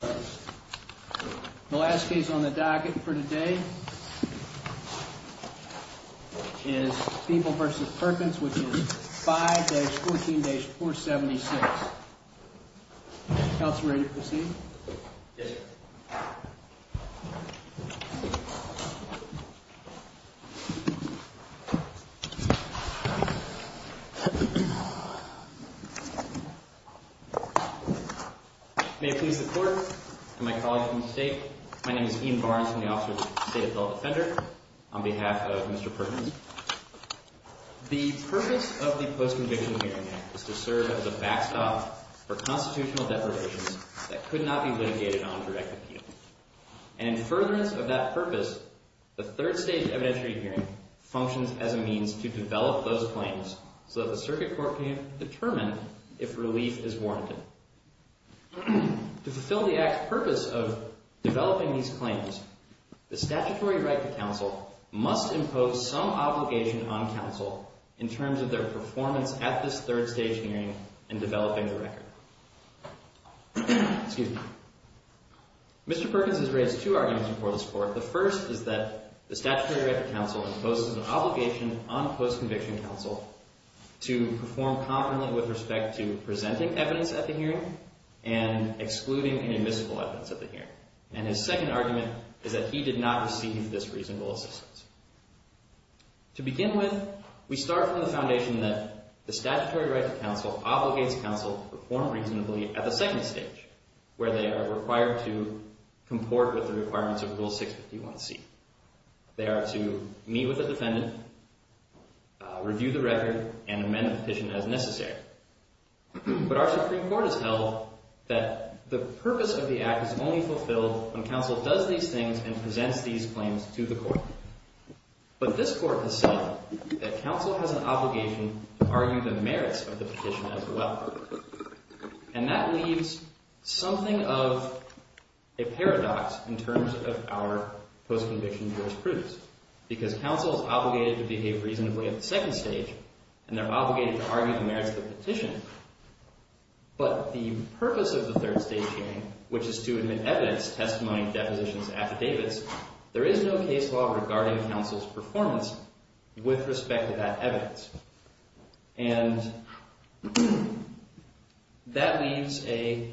The last case on the docket for today is Peeble v. Perkins, which is 5-14-476. Counselor, are you ready to proceed? Yes, sir. May it please the Court, and my colleagues from the State, my name is Ian Barnes. I'm the officer of the State Adult Defender on behalf of Mr. Perkins. The purpose of the Post-Conviction Hearing Act is to serve as a backstop for constitutional deprivations that could not be litigated on direct appeal. And in furtherance of that purpose, the third stage evidentiary hearing functions as a means to develop those claims so that the circuit court can determine if relief is warranted. To fulfill the act's purpose of developing these claims, the statutory right to counsel must impose some obligation on counsel in developing the record. Mr. Perkins has raised two arguments before this Court. The first is that the statutory right to counsel imposes an obligation on post-conviction counsel to perform confidently with respect to presenting evidence at the hearing and excluding any admissible evidence at the hearing. And his second argument is that he did not receive this reasonable assistance. To begin with, we start from the foundation that the statutory right to counsel obligates counsel to perform reasonably at the second stage, where they are required to comport with the requirements of Rule 651C. They are to meet with a defendant, review the record, and amend the petition as necessary. But our Supreme Court has held that the purpose of But this Court has said that counsel has an obligation to argue the merits of the petition as well. And that leaves something of a paradox in terms of our post-conviction jurisprudence, because counsel is obligated to behave reasonably at the second stage, and they're obligated to argue the merits of the petition. But the purpose of the third stage hearing, which is to admit evidence, testimony, depositions, affidavits, there is no case law regarding counsel's performance with respect to that evidence. And that leaves a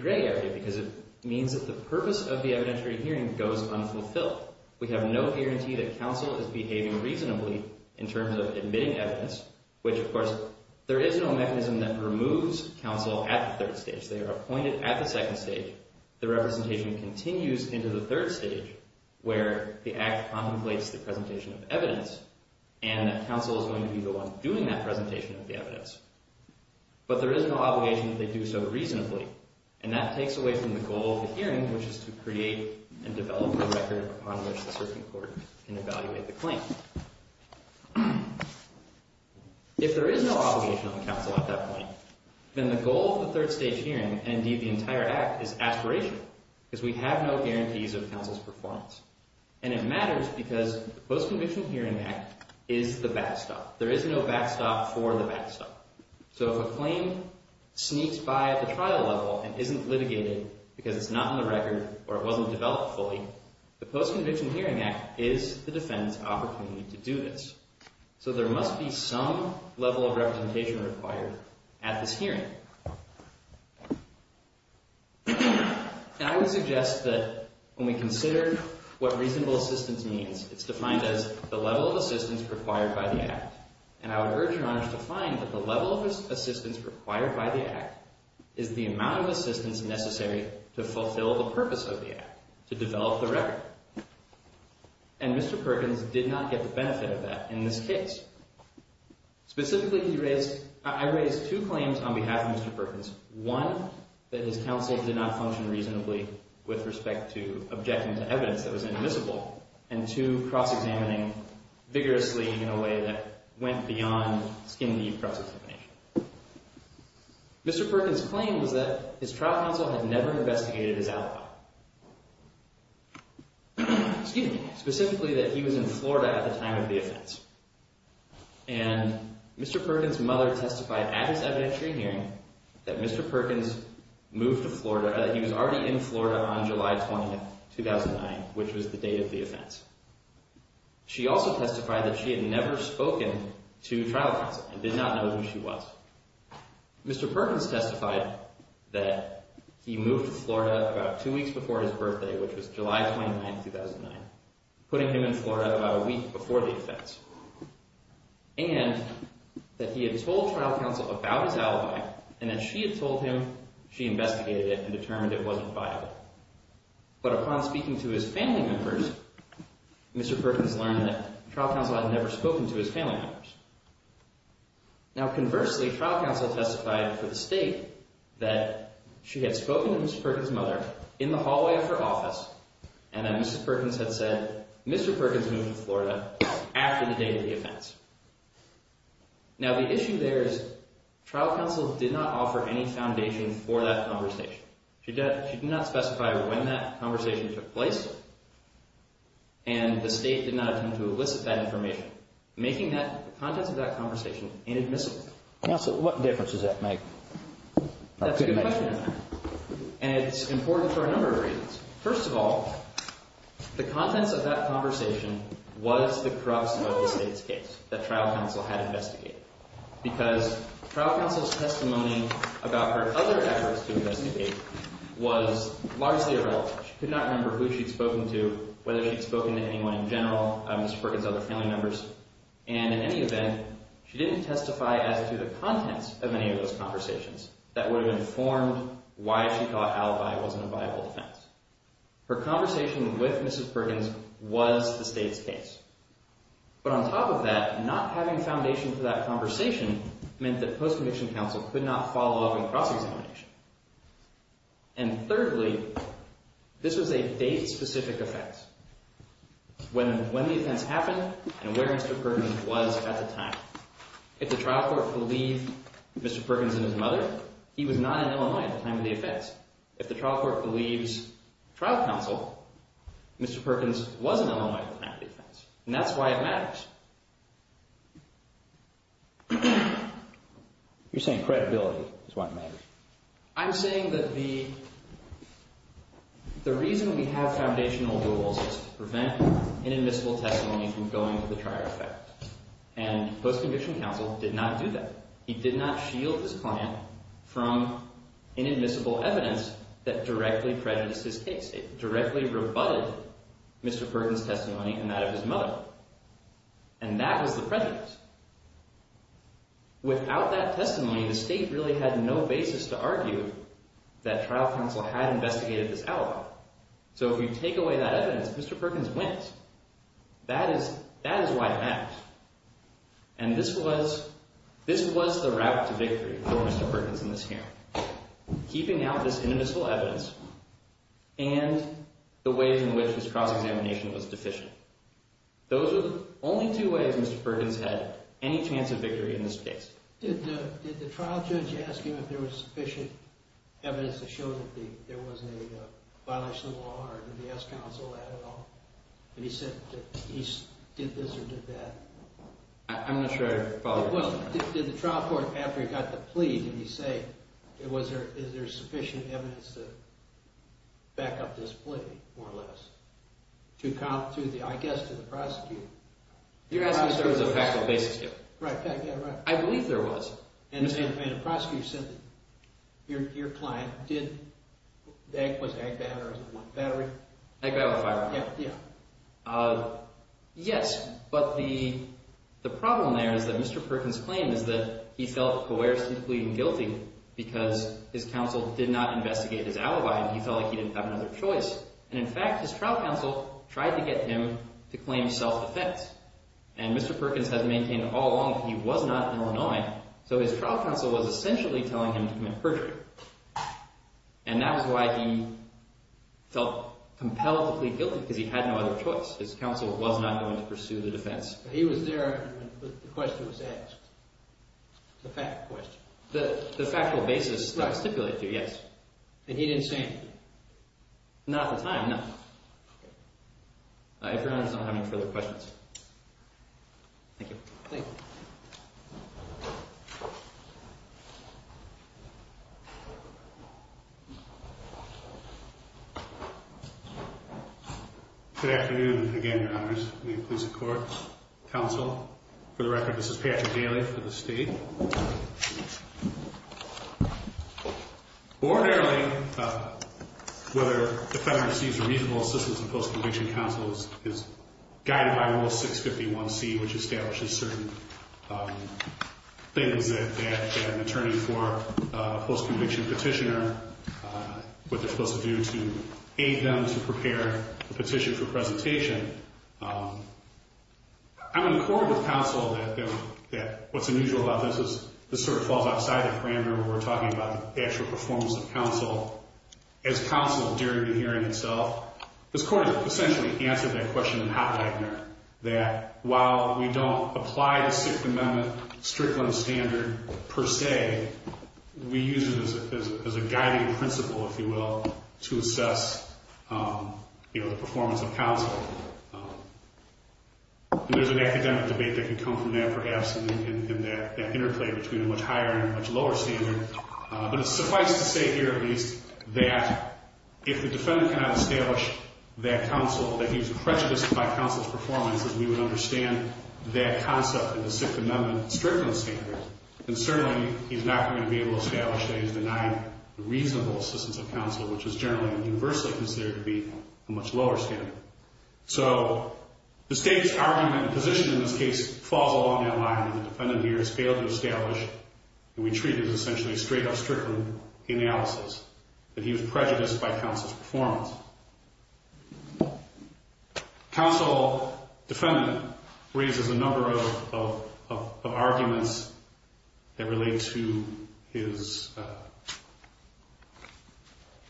gray area, because it means that the purpose of the evidentiary hearing goes unfulfilled. We have no guarantee that counsel is behaving reasonably in terms of admitting evidence, which, of course, there is no mechanism that removes counsel at the third stage. They are appointed at the second stage. The representation continues into the third stage, where the act contemplates the presentation of evidence, and that counsel is going to be the one doing that presentation of the evidence. But there is no obligation that they do so reasonably. And that takes away from the goal of the hearing, which is to create and develop a record upon which the Supreme Court can evaluate the claim. If there is no obligation on counsel at that point, then the goal of the third stage hearing, and indeed the entire act, is aspiration, because we have no guarantees of counsel's performance. And it matters because the Post-Conviction Hearing Act is the backstop. There is no backstop for the backstop. So if a claim sneaks by at the trial level and isn't litigated because it's not in the record or it wasn't developed fully, the Post-Conviction Hearing Act is the defendant's opportunity to do this. So there must be some level of representation required at this hearing. And I would suggest that when we consider what reasonable assistance means, it's defined as the level of assistance required by the act. And I would urge Your Honor to find that the level of assistance required by the act is the amount of assistance necessary to fulfill the purpose of the act, to develop the record. And Mr. Perkins did not get the benefit of that in this case. Specifically, I raised two claims on behalf of Mr. Perkins. One, that his counsel did not function reasonably with respect to objecting to evidence that was inadmissible. And two, cross-examining vigorously in a way that went beyond skin-deep cross-examination. Mr. Perkins' claim was that his trial counsel had never investigated his alibi. Excuse me. Specifically, that he was in Florida at the time of the offense. And Mr. Perkins' mother testified at his evidentiary hearing that Mr. Perkins moved to Florida, that he was already in Florida on July 20th, 2009, which was the date of the offense. She also testified that she had never spoken to trial counsel and did not know who she was. Mr. Perkins testified that he moved to Florida about two weeks before his birthday, which was July 29th, 2009, putting him in Florida about a week before the offense. And that he had told trial counsel about his alibi, and that she had told him she investigated it and determined it wasn't viable. But upon speaking to his family members, Mr. Perkins learned that trial counsel had never spoken to his family members. Now conversely, trial counsel testified for the state that she had spoken to Mr. Perkins' mother in the hallway of her office, and that Mrs. Perkins had said Mr. Perkins moved to Florida after the date of the offense. Now the issue there is trial counsel did not offer any foundation for that conversation. She did not specify when that conversation took place, and the state did not attempt to elicit that information, making the contents of that conversation inadmissible. Counsel, what difference does that make? That's a good question, and it's important for a number of reasons. First of all, the contents of that conversation was the corruption of the state's case that trial counsel had investigated, because trial counsel's testimony about her other efforts to investigate was largely irrelevant. She could not remember who she'd spoken to, whether she'd spoken to anyone in general, Mr. Perkins' other family members, and in any event, she didn't testify as to the contents of any of those conversations that would have informed why she thought alibi wasn't a viable offense. Her conversation with Mrs. Perkins was the state's case. But on top of that, not having foundation for that conversation meant that post-conviction counsel could not follow up in cross-examination. And thirdly, this was a date-specific offense, when the offense happened and where Mr. Perkins was at the time. If the trial court believed Mr. Perkins and his mother, he was not in Illinois at the time of the offense. If the trial court believes trial counsel, Mr. Perkins was in Illinois at the time of the offense, and that's why it matters. You're saying credibility is why it matters. I'm saying that the reason we have foundational rules is to prevent inadmissible testimony from going to the trial effect, and post-conviction counsel did not do that. He did not shield his client from inadmissible evidence that directly prejudiced his case. It directly rebutted Mr. Perkins' testimony and that of his mother. And that was the prejudice. Without that testimony, the state really had no basis to argue that trial counsel had investigated this alibi. So if you take away that evidence, Mr. Perkins wins. That is why it matters. And this was the route to victory for Mr. Perkins in this hearing, keeping out this the ways in which his cross-examination was deficient. Those are the only two ways Mr. Perkins had any chance of victory in this case. Did the trial judge ask him if there was sufficient evidence to show that there was a violation of the law, or did the S-Counsel add it all? And he said that he did this or did that. I'm not sure I follow your question. Well, did the trial court, after he got the plea, did he say, is there sufficient evidence to back up this plea, more or less, to count to the, I guess, to the prosecutor? You're asking if there was a factual basis to it. Right, yeah, right. I believe there was. And the prosecutor said that your client did, was agbat or was it battery? Agbat with a firearm. Yeah, yeah. Yes, but the problem there is that Mr. Perkins' claim is that he felt coercively and guilty because his counsel did not investigate his alibi and he felt like he didn't have another choice. And, in fact, his trial counsel tried to get him to claim self-defense. And Mr. Perkins has maintained all along that he was not in Illinois, so his trial counsel was essentially telling him to commit perjury. And that was why he felt compel to plead guilty, because he had no other choice. His counsel was not going to pursue the defense. He was there when the question was asked, the fact question. The factual basis that I stipulated to you, yes. And he didn't say anything? Not at the time, no. If your Honor does not have any further questions. Thank you. Thank you. Good afternoon again, Your Honors. The Inclusive Court, counsel. For the record, this is Patrick Daly for the State. Ordinarily, whether a defendant receives reasonable assistance in post-conviction counsel is guided by Rule 651C, which establishes certain things that an attorney for a post-conviction petitioner, what they're supposed to do to aid them to prepare a petition for presentation. I'm in accord with counsel that what's unusual about this is this sort of falls outside the parameter where we're talking about the actual performance of counsel. As counsel during the hearing itself, this Court has essentially answered that question in Hot Wagner, that while we don't apply the Sixth Amendment Strickland Standard per se, we use it as a guiding principle, if you will, to assess the performance of counsel. There's an academic debate that can come from that, perhaps, and that interplay between a much higher and a much lower standard. But it's suffice to say here, at least, that if the defendant cannot establish that counsel, that he was prejudiced by counsel's performance, that we would understand that concept in the Sixth Amendment Strickland Standard. And certainly, he's not going to be able to establish that he's denying the reasonable assistance of counsel, which is generally universally considered to be a much lower standard. So the State's argument and position in this case falls along that line, and the defendant here has failed to establish, and we treat it as essentially a straight-up Strickland analysis, that he was prejudiced by counsel's performance. Counsel, defendant, raises a number of arguments that relate to his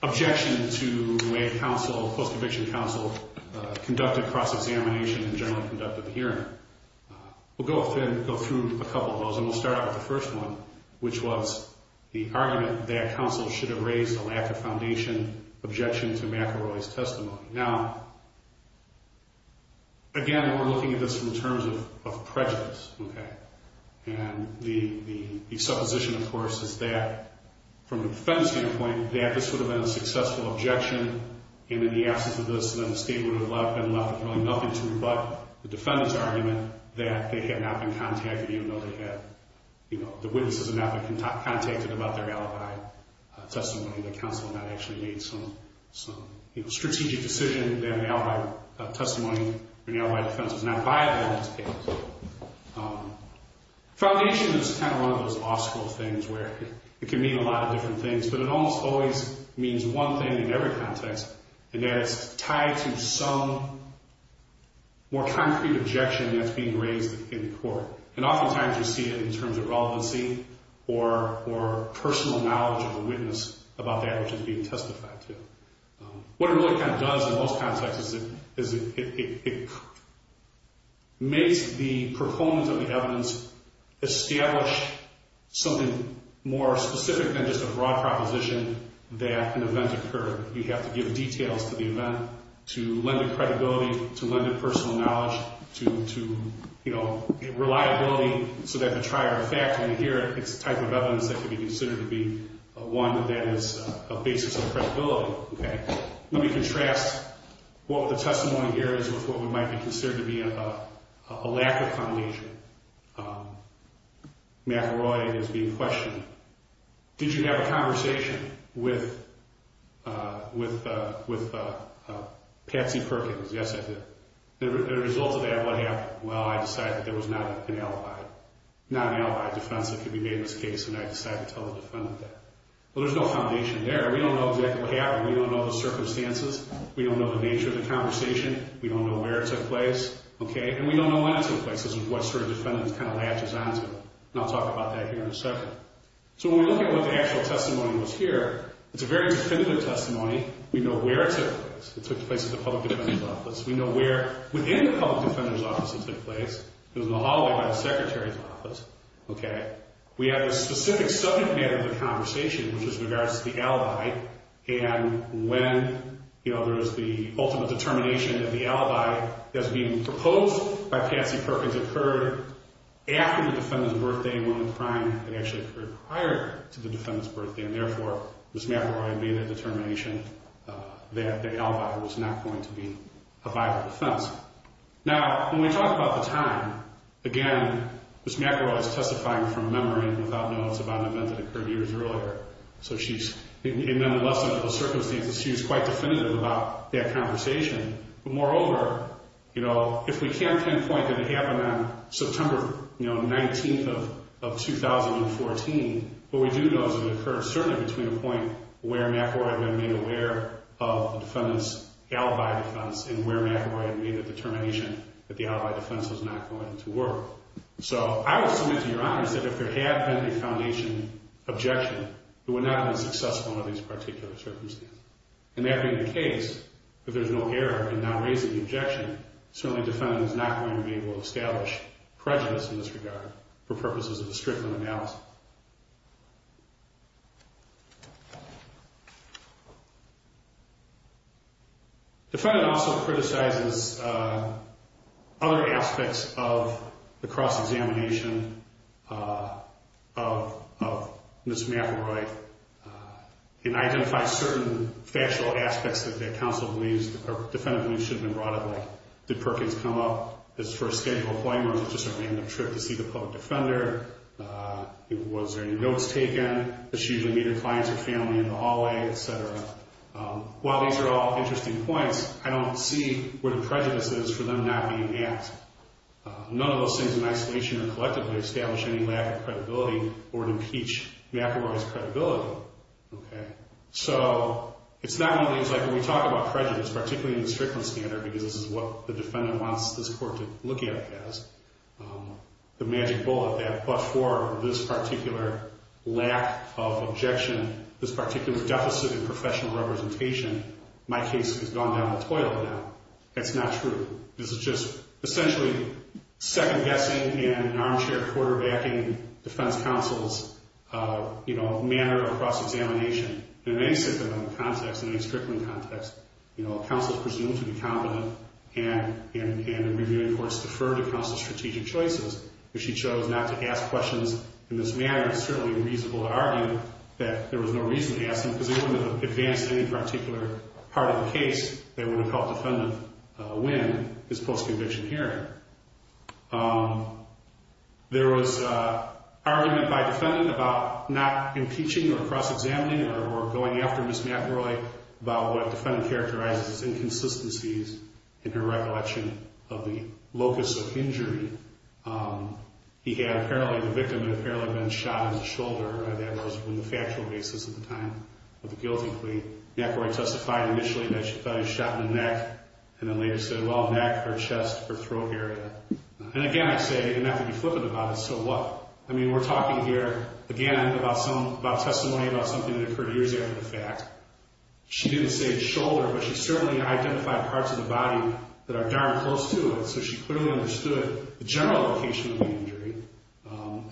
objection to the way counsel, post-conviction counsel, conducted cross-examination and generally conducted the hearing. We'll go through a couple of those, and we'll start out with the first one, which was the argument that counsel should have raised a lack of foundation, objection to McElroy's testimony. Now, again, we're looking at this in terms of prejudice, okay? And the supposition, of course, is that from the defendant's standpoint, that this would have been a successful objection, and in the absence of this, then the State would have been left with really nothing to rebut the defendant's argument that they had not been contacted, even though they had, you know, the witnesses had not been contacted about their McElroy testimony, that counsel had not actually made some, you know, strategic decision that McElroy testimony, McElroy defense was not viable in this case. Foundation is kind of one of those law school things where it can mean a lot of different things, but it almost always means one thing in every context, and that it's tied to some more concrete objection that's being raised in court. And oftentimes you see it in terms of relevancy or personal knowledge of a witness about that which is being testified to. What it really kind of does in most contexts is it makes the performance of the evidence establish something more specific than just a broad proposition that an event occurred. You have to give details to the event to lend it credibility, to lend it personal knowledge, to, you know, reliability so that the trier of fact when you hear it, it's the type of evidence that can be considered to be one that is a basis of credibility. Let me contrast what the testimony here is with what might be considered to be a lack of foundation. McElroy is being questioned. Did you have a conversation with Patsy Perkins? Yes, I did. And as a result of that, what happened? Well, I decided that there was not an alibi, not an alibi defense that could be made in this case, and I decided to tell the defendant that. Well, there's no foundation there. We don't know exactly what happened. We don't know the circumstances. We don't know the nature of the conversation. We don't know where it took place, okay? And we don't know when it took place. This is what sort of defendants kind of latches on to. And I'll talk about that here in a second. So when we look at what the actual testimony was here, it's a very definitive testimony. We know where it took place. It took place at the public defender's office. We know where within the public defender's office it took place. It was in the hallway by the secretary's office, okay? We have a specific subject matter of the conversation, which is in regards to the alibi, and when, you know, there is the ultimate determination that the alibi that's being proposed by Patsy Perkins occurred after the defendant's birthday when the crime had actually occurred prior to the defendant's birthday, and therefore, Ms. McElroy made a determination that the alibi was not going to be a viable defense. Now, when we talk about the time, again, Ms. McElroy is testifying from memory without notice about an event that occurred years earlier. So she's in less than equal circumstances, she's quite definitive about that conversation. But moreover, you know, if we can't pinpoint that it happened on September, you know, 19th of 2014, what we do know is it occurred certainly between the point where McElroy had been made aware of the defendant's alibi defense and where McElroy had made a determination that the alibi defense was not going to work. So I would submit to Your Honors that if there had been a foundation objection, it would not have been successful under these particular circumstances. And that being the case, if there's no error in not raising the objection, certainly the defendant is not going to be able to establish prejudice in this regard for purposes of a stricter analysis. The defendant also criticizes other aspects of the cross-examination of Ms. McElroy and identifies certain factual aspects that counsel believes the defendant should have been brought up with. Did Perkins come up his first scheduled appointment or was it just a random trip to see the public defender? Was there any notes taken? Did she usually meet her clients or family in the hallway, et cetera? While these are all interesting points, I don't see where the prejudice is for them not being asked. None of those things in isolation or collectively establish any lack of credibility or would impeach McElroy's credibility. So it's not only like when we talk about prejudice, particularly in the Strickland standard, because this is what the defendant wants this court to look at it as, the magic bullet, that but for this particular lack of objection, this particular deficit in professional representation, my case has gone down the toilet now. That's not true. This is just essentially second-guessing in an armchair quarterbacking defense counsel's manner of cross-examination. In any sit-down context, in any Strickland context, counsel's presumed to be competent and in reviewing courts deferred to counsel's strategic choices. If she chose not to ask questions in this manner, it's certainly reasonable to argue that there was no reason to ask them in this post-conviction hearing. There was argument by defendant about not impeaching or cross-examining or going after Ms. McElroy about what defendant characterized as inconsistencies in her recollection of the locus of injury. He had apparently, the victim had apparently been shot in the shoulder. That was on the factual basis at the time of the guilty plea. McElroy testified initially that she thought he shot in the neck and then later said, well, neck or chest or throat area. And again, I say, you don't have to be flippant about it, so what? I mean, we're talking here, again, about testimony about something that occurred years after the fact. She didn't say shoulder, but she certainly identified parts of the body that are darn close to it, so she clearly understood the general location of the injury.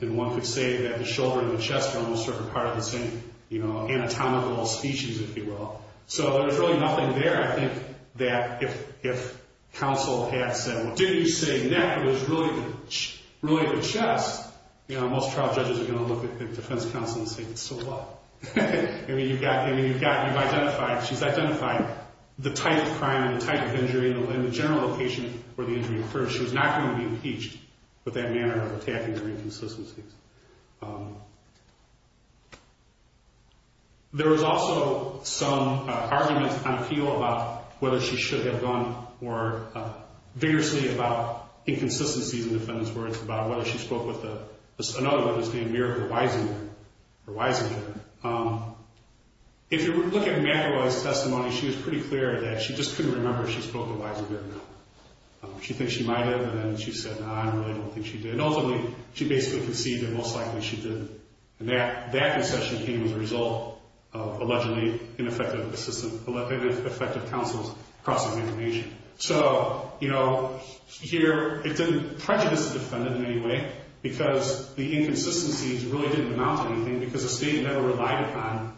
And one could say that the shoulder and the chest are almost sort of part of the same, you know, anatomical species, if you will. So there's really nothing there, I think, that if counsel had said, well, didn't you say neck? It was really the chest. You know, most trial judges are going to look at defense counsel and say, so what? I mean, you've identified, she's identified the type of crime and the type of injury and the general location where the injury occurs. She was not going to be impeached with that manner of attacking her inconsistencies. There was also some argument on appeal about whether she should have gone more vigorously about inconsistencies in the defendant's words, about whether she spoke with another word that's being mirrored, the wisinger, the wisinger. If you look at McElroy's testimony, she was pretty clear that she just couldn't remember if she spoke with a wisinger or not. She thinks she might have, and then she said, no, I really don't think she did. And ultimately, she basically conceded that most likely she did. And that concession came as a result of allegedly ineffective assistance, ineffective counsels crossing information. So, you know, here it didn't prejudice the defendant in any way because the inconsistencies really didn't amount to anything because the state never relied upon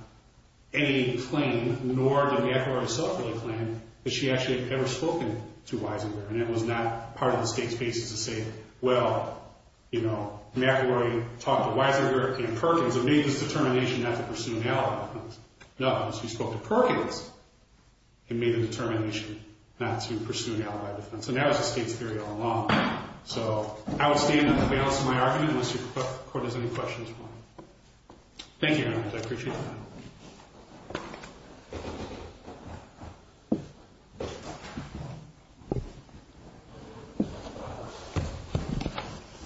any claim, nor did McElroy's self-reliant claim, that she actually had ever spoken to wisinger. And it was not part of the state's basis to say, well, you know, McElroy talked to wisinger and Perkins and made this determination not to pursue an alibi defense. No, because she spoke to Perkins and made the determination not to pursue an alibi defense. And that was the state's theory all along. So I would stand on the balance of my argument unless your court has any questions for me. Thank you, Your Honor. I appreciate your time.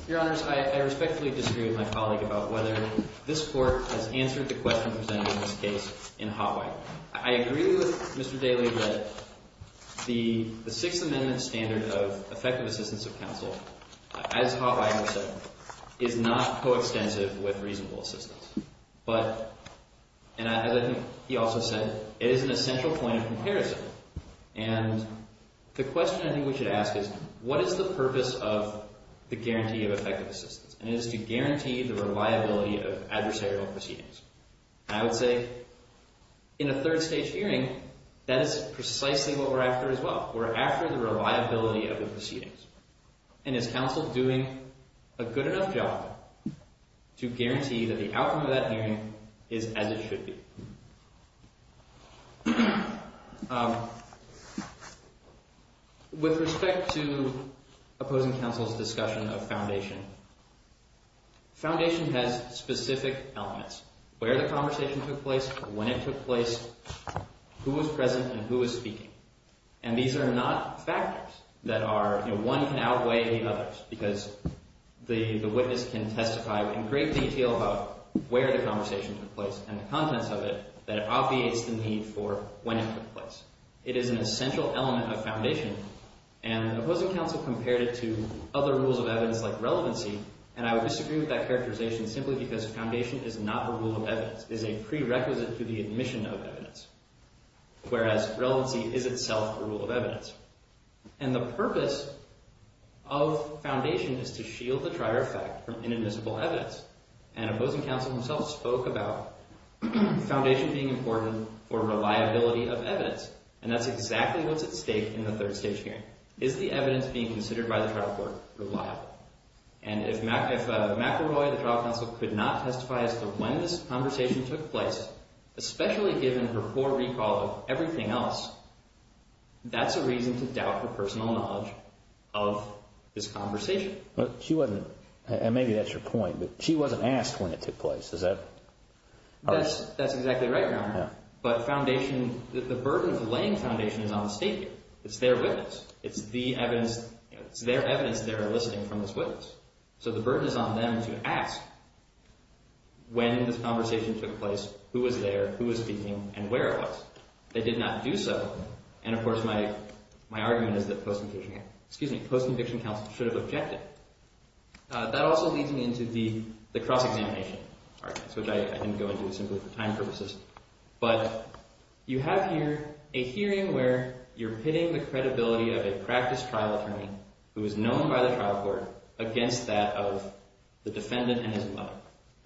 Your Honors, I respectfully disagree with my colleague about whether this court has answered the question presented in this case in Hotwire. I agree with Mr. Daly that the Sixth Amendment standard of effective assistance of counsel, as Hotwire has said, is not coextensive with reasonable assistance. But, and I think he also said, it is an essential point of comparison. And the question I think we should ask is, what is the purpose of the guarantee of effective assistance? And it is to guarantee the reliability of adversarial proceedings. And I would say, in a third stage hearing, that is precisely what we're after as well. We're after the reliability of the proceedings. And is counsel doing a good enough job to guarantee that the outcome of that hearing is as it should be? With respect to opposing counsel's discussion of foundation, foundation has specific elements. Where the conversation took place, when it took place, who was present, and who was speaking. And these are not factors that are, you know, one can outweigh the others. Because the witness can testify in great detail about where the conversation took place and the contents of it that it obviates the need for when it took place. It is an essential element of foundation. And opposing counsel compared it to other rules of evidence like relevancy. And I would disagree with that characterization simply because foundation is not a rule of evidence. It is a prerequisite to the admission of evidence. Whereas, relevancy is itself a rule of evidence. And the purpose of foundation is to shield the trier effect from inadmissible evidence. And opposing counsel himself spoke about foundation being important for reliability of evidence. And that's exactly what's at stake in the third stage hearing. Is the evidence being considered by the trial court reliable? And if McElroy, the trial counsel, could not testify as to when this conversation took place, especially given her poor recall of everything else, that's a reason to doubt her personal knowledge of this conversation. She wasn't, and maybe that's your point, but she wasn't asked when it took place. Is that? That's exactly right, Your Honor. But foundation, the burden for laying foundation is on the state here. It's their witness. It's the evidence, it's their evidence they're enlisting from this witness. So the burden is on them to ask when this conversation took place, who was there, who was speaking, and where it was. They did not do so. And, of course, my argument is that post-conviction counsel should have objected. That also leads me into the cross-examination argument, which I didn't go into simply for time purposes. But you have here a hearing where you're pitting the credibility of a practice trial attorney who is known by the trial court against that of the defendant and his mother.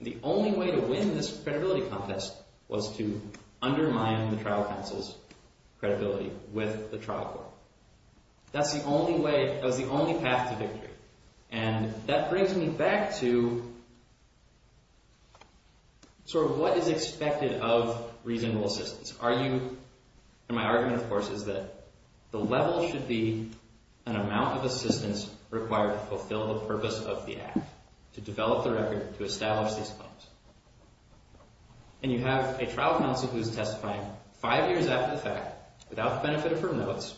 The only way to win this credibility contest was to undermine the trial counsel's credibility with the trial court. That's the only way, that was the only path to victory. And that brings me back to sort of what is expected of reasonable assistance. Are you – and my argument, of course, is that the level should be an amount of assistance required to fulfill the purpose of the act, to develop the record, to establish these claims. And you have a trial counsel who is testifying five years after the fact, without the benefit of her notes,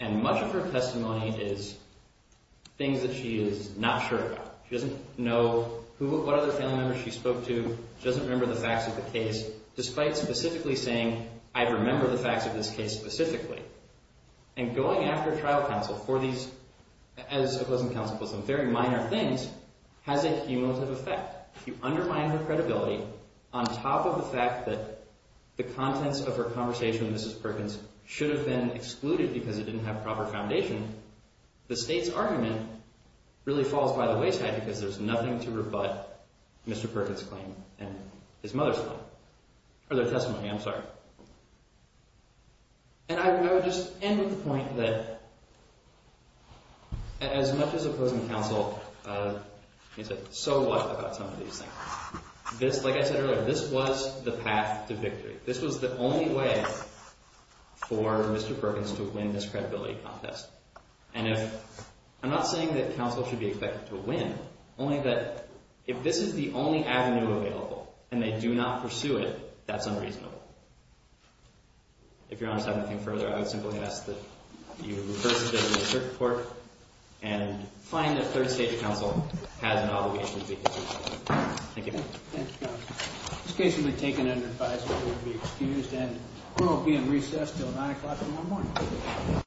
and much of her testimony is things that she is not sure about. She doesn't know what other family members she spoke to. She doesn't remember the facts of the case, despite specifically saying, I remember the facts of this case specifically. And going after trial counsel for these, as opposed to counsel for some very minor things, has a cumulative effect. If you undermine her credibility on top of the fact that the contents of her conversation with Mrs. Perkins should have been excluded because it didn't have proper foundation, the state's argument really falls by the wayside because there's nothing to rebut Mr. Perkins' claim and his mother's claim – or their testimony, I'm sorry. And I would just end with the point that as much as opposing counsel – so what about some of these things? This – like I said earlier, this was the path to victory. This was the only way for Mr. Perkins to win this credibility contest. And if – I'm not saying that counsel should be expected to win, only that if this is the only avenue available and they do not pursue it, that's unreasonable. If Your Honor would like to add anything further, I would simply ask that you reverse the business report and find that third stage counsel has an obligation to be excused. Thank you. Thank you, Your Honor. This case will be taken under advisory to be excused and will be in recess until 9 o'clock in the morning.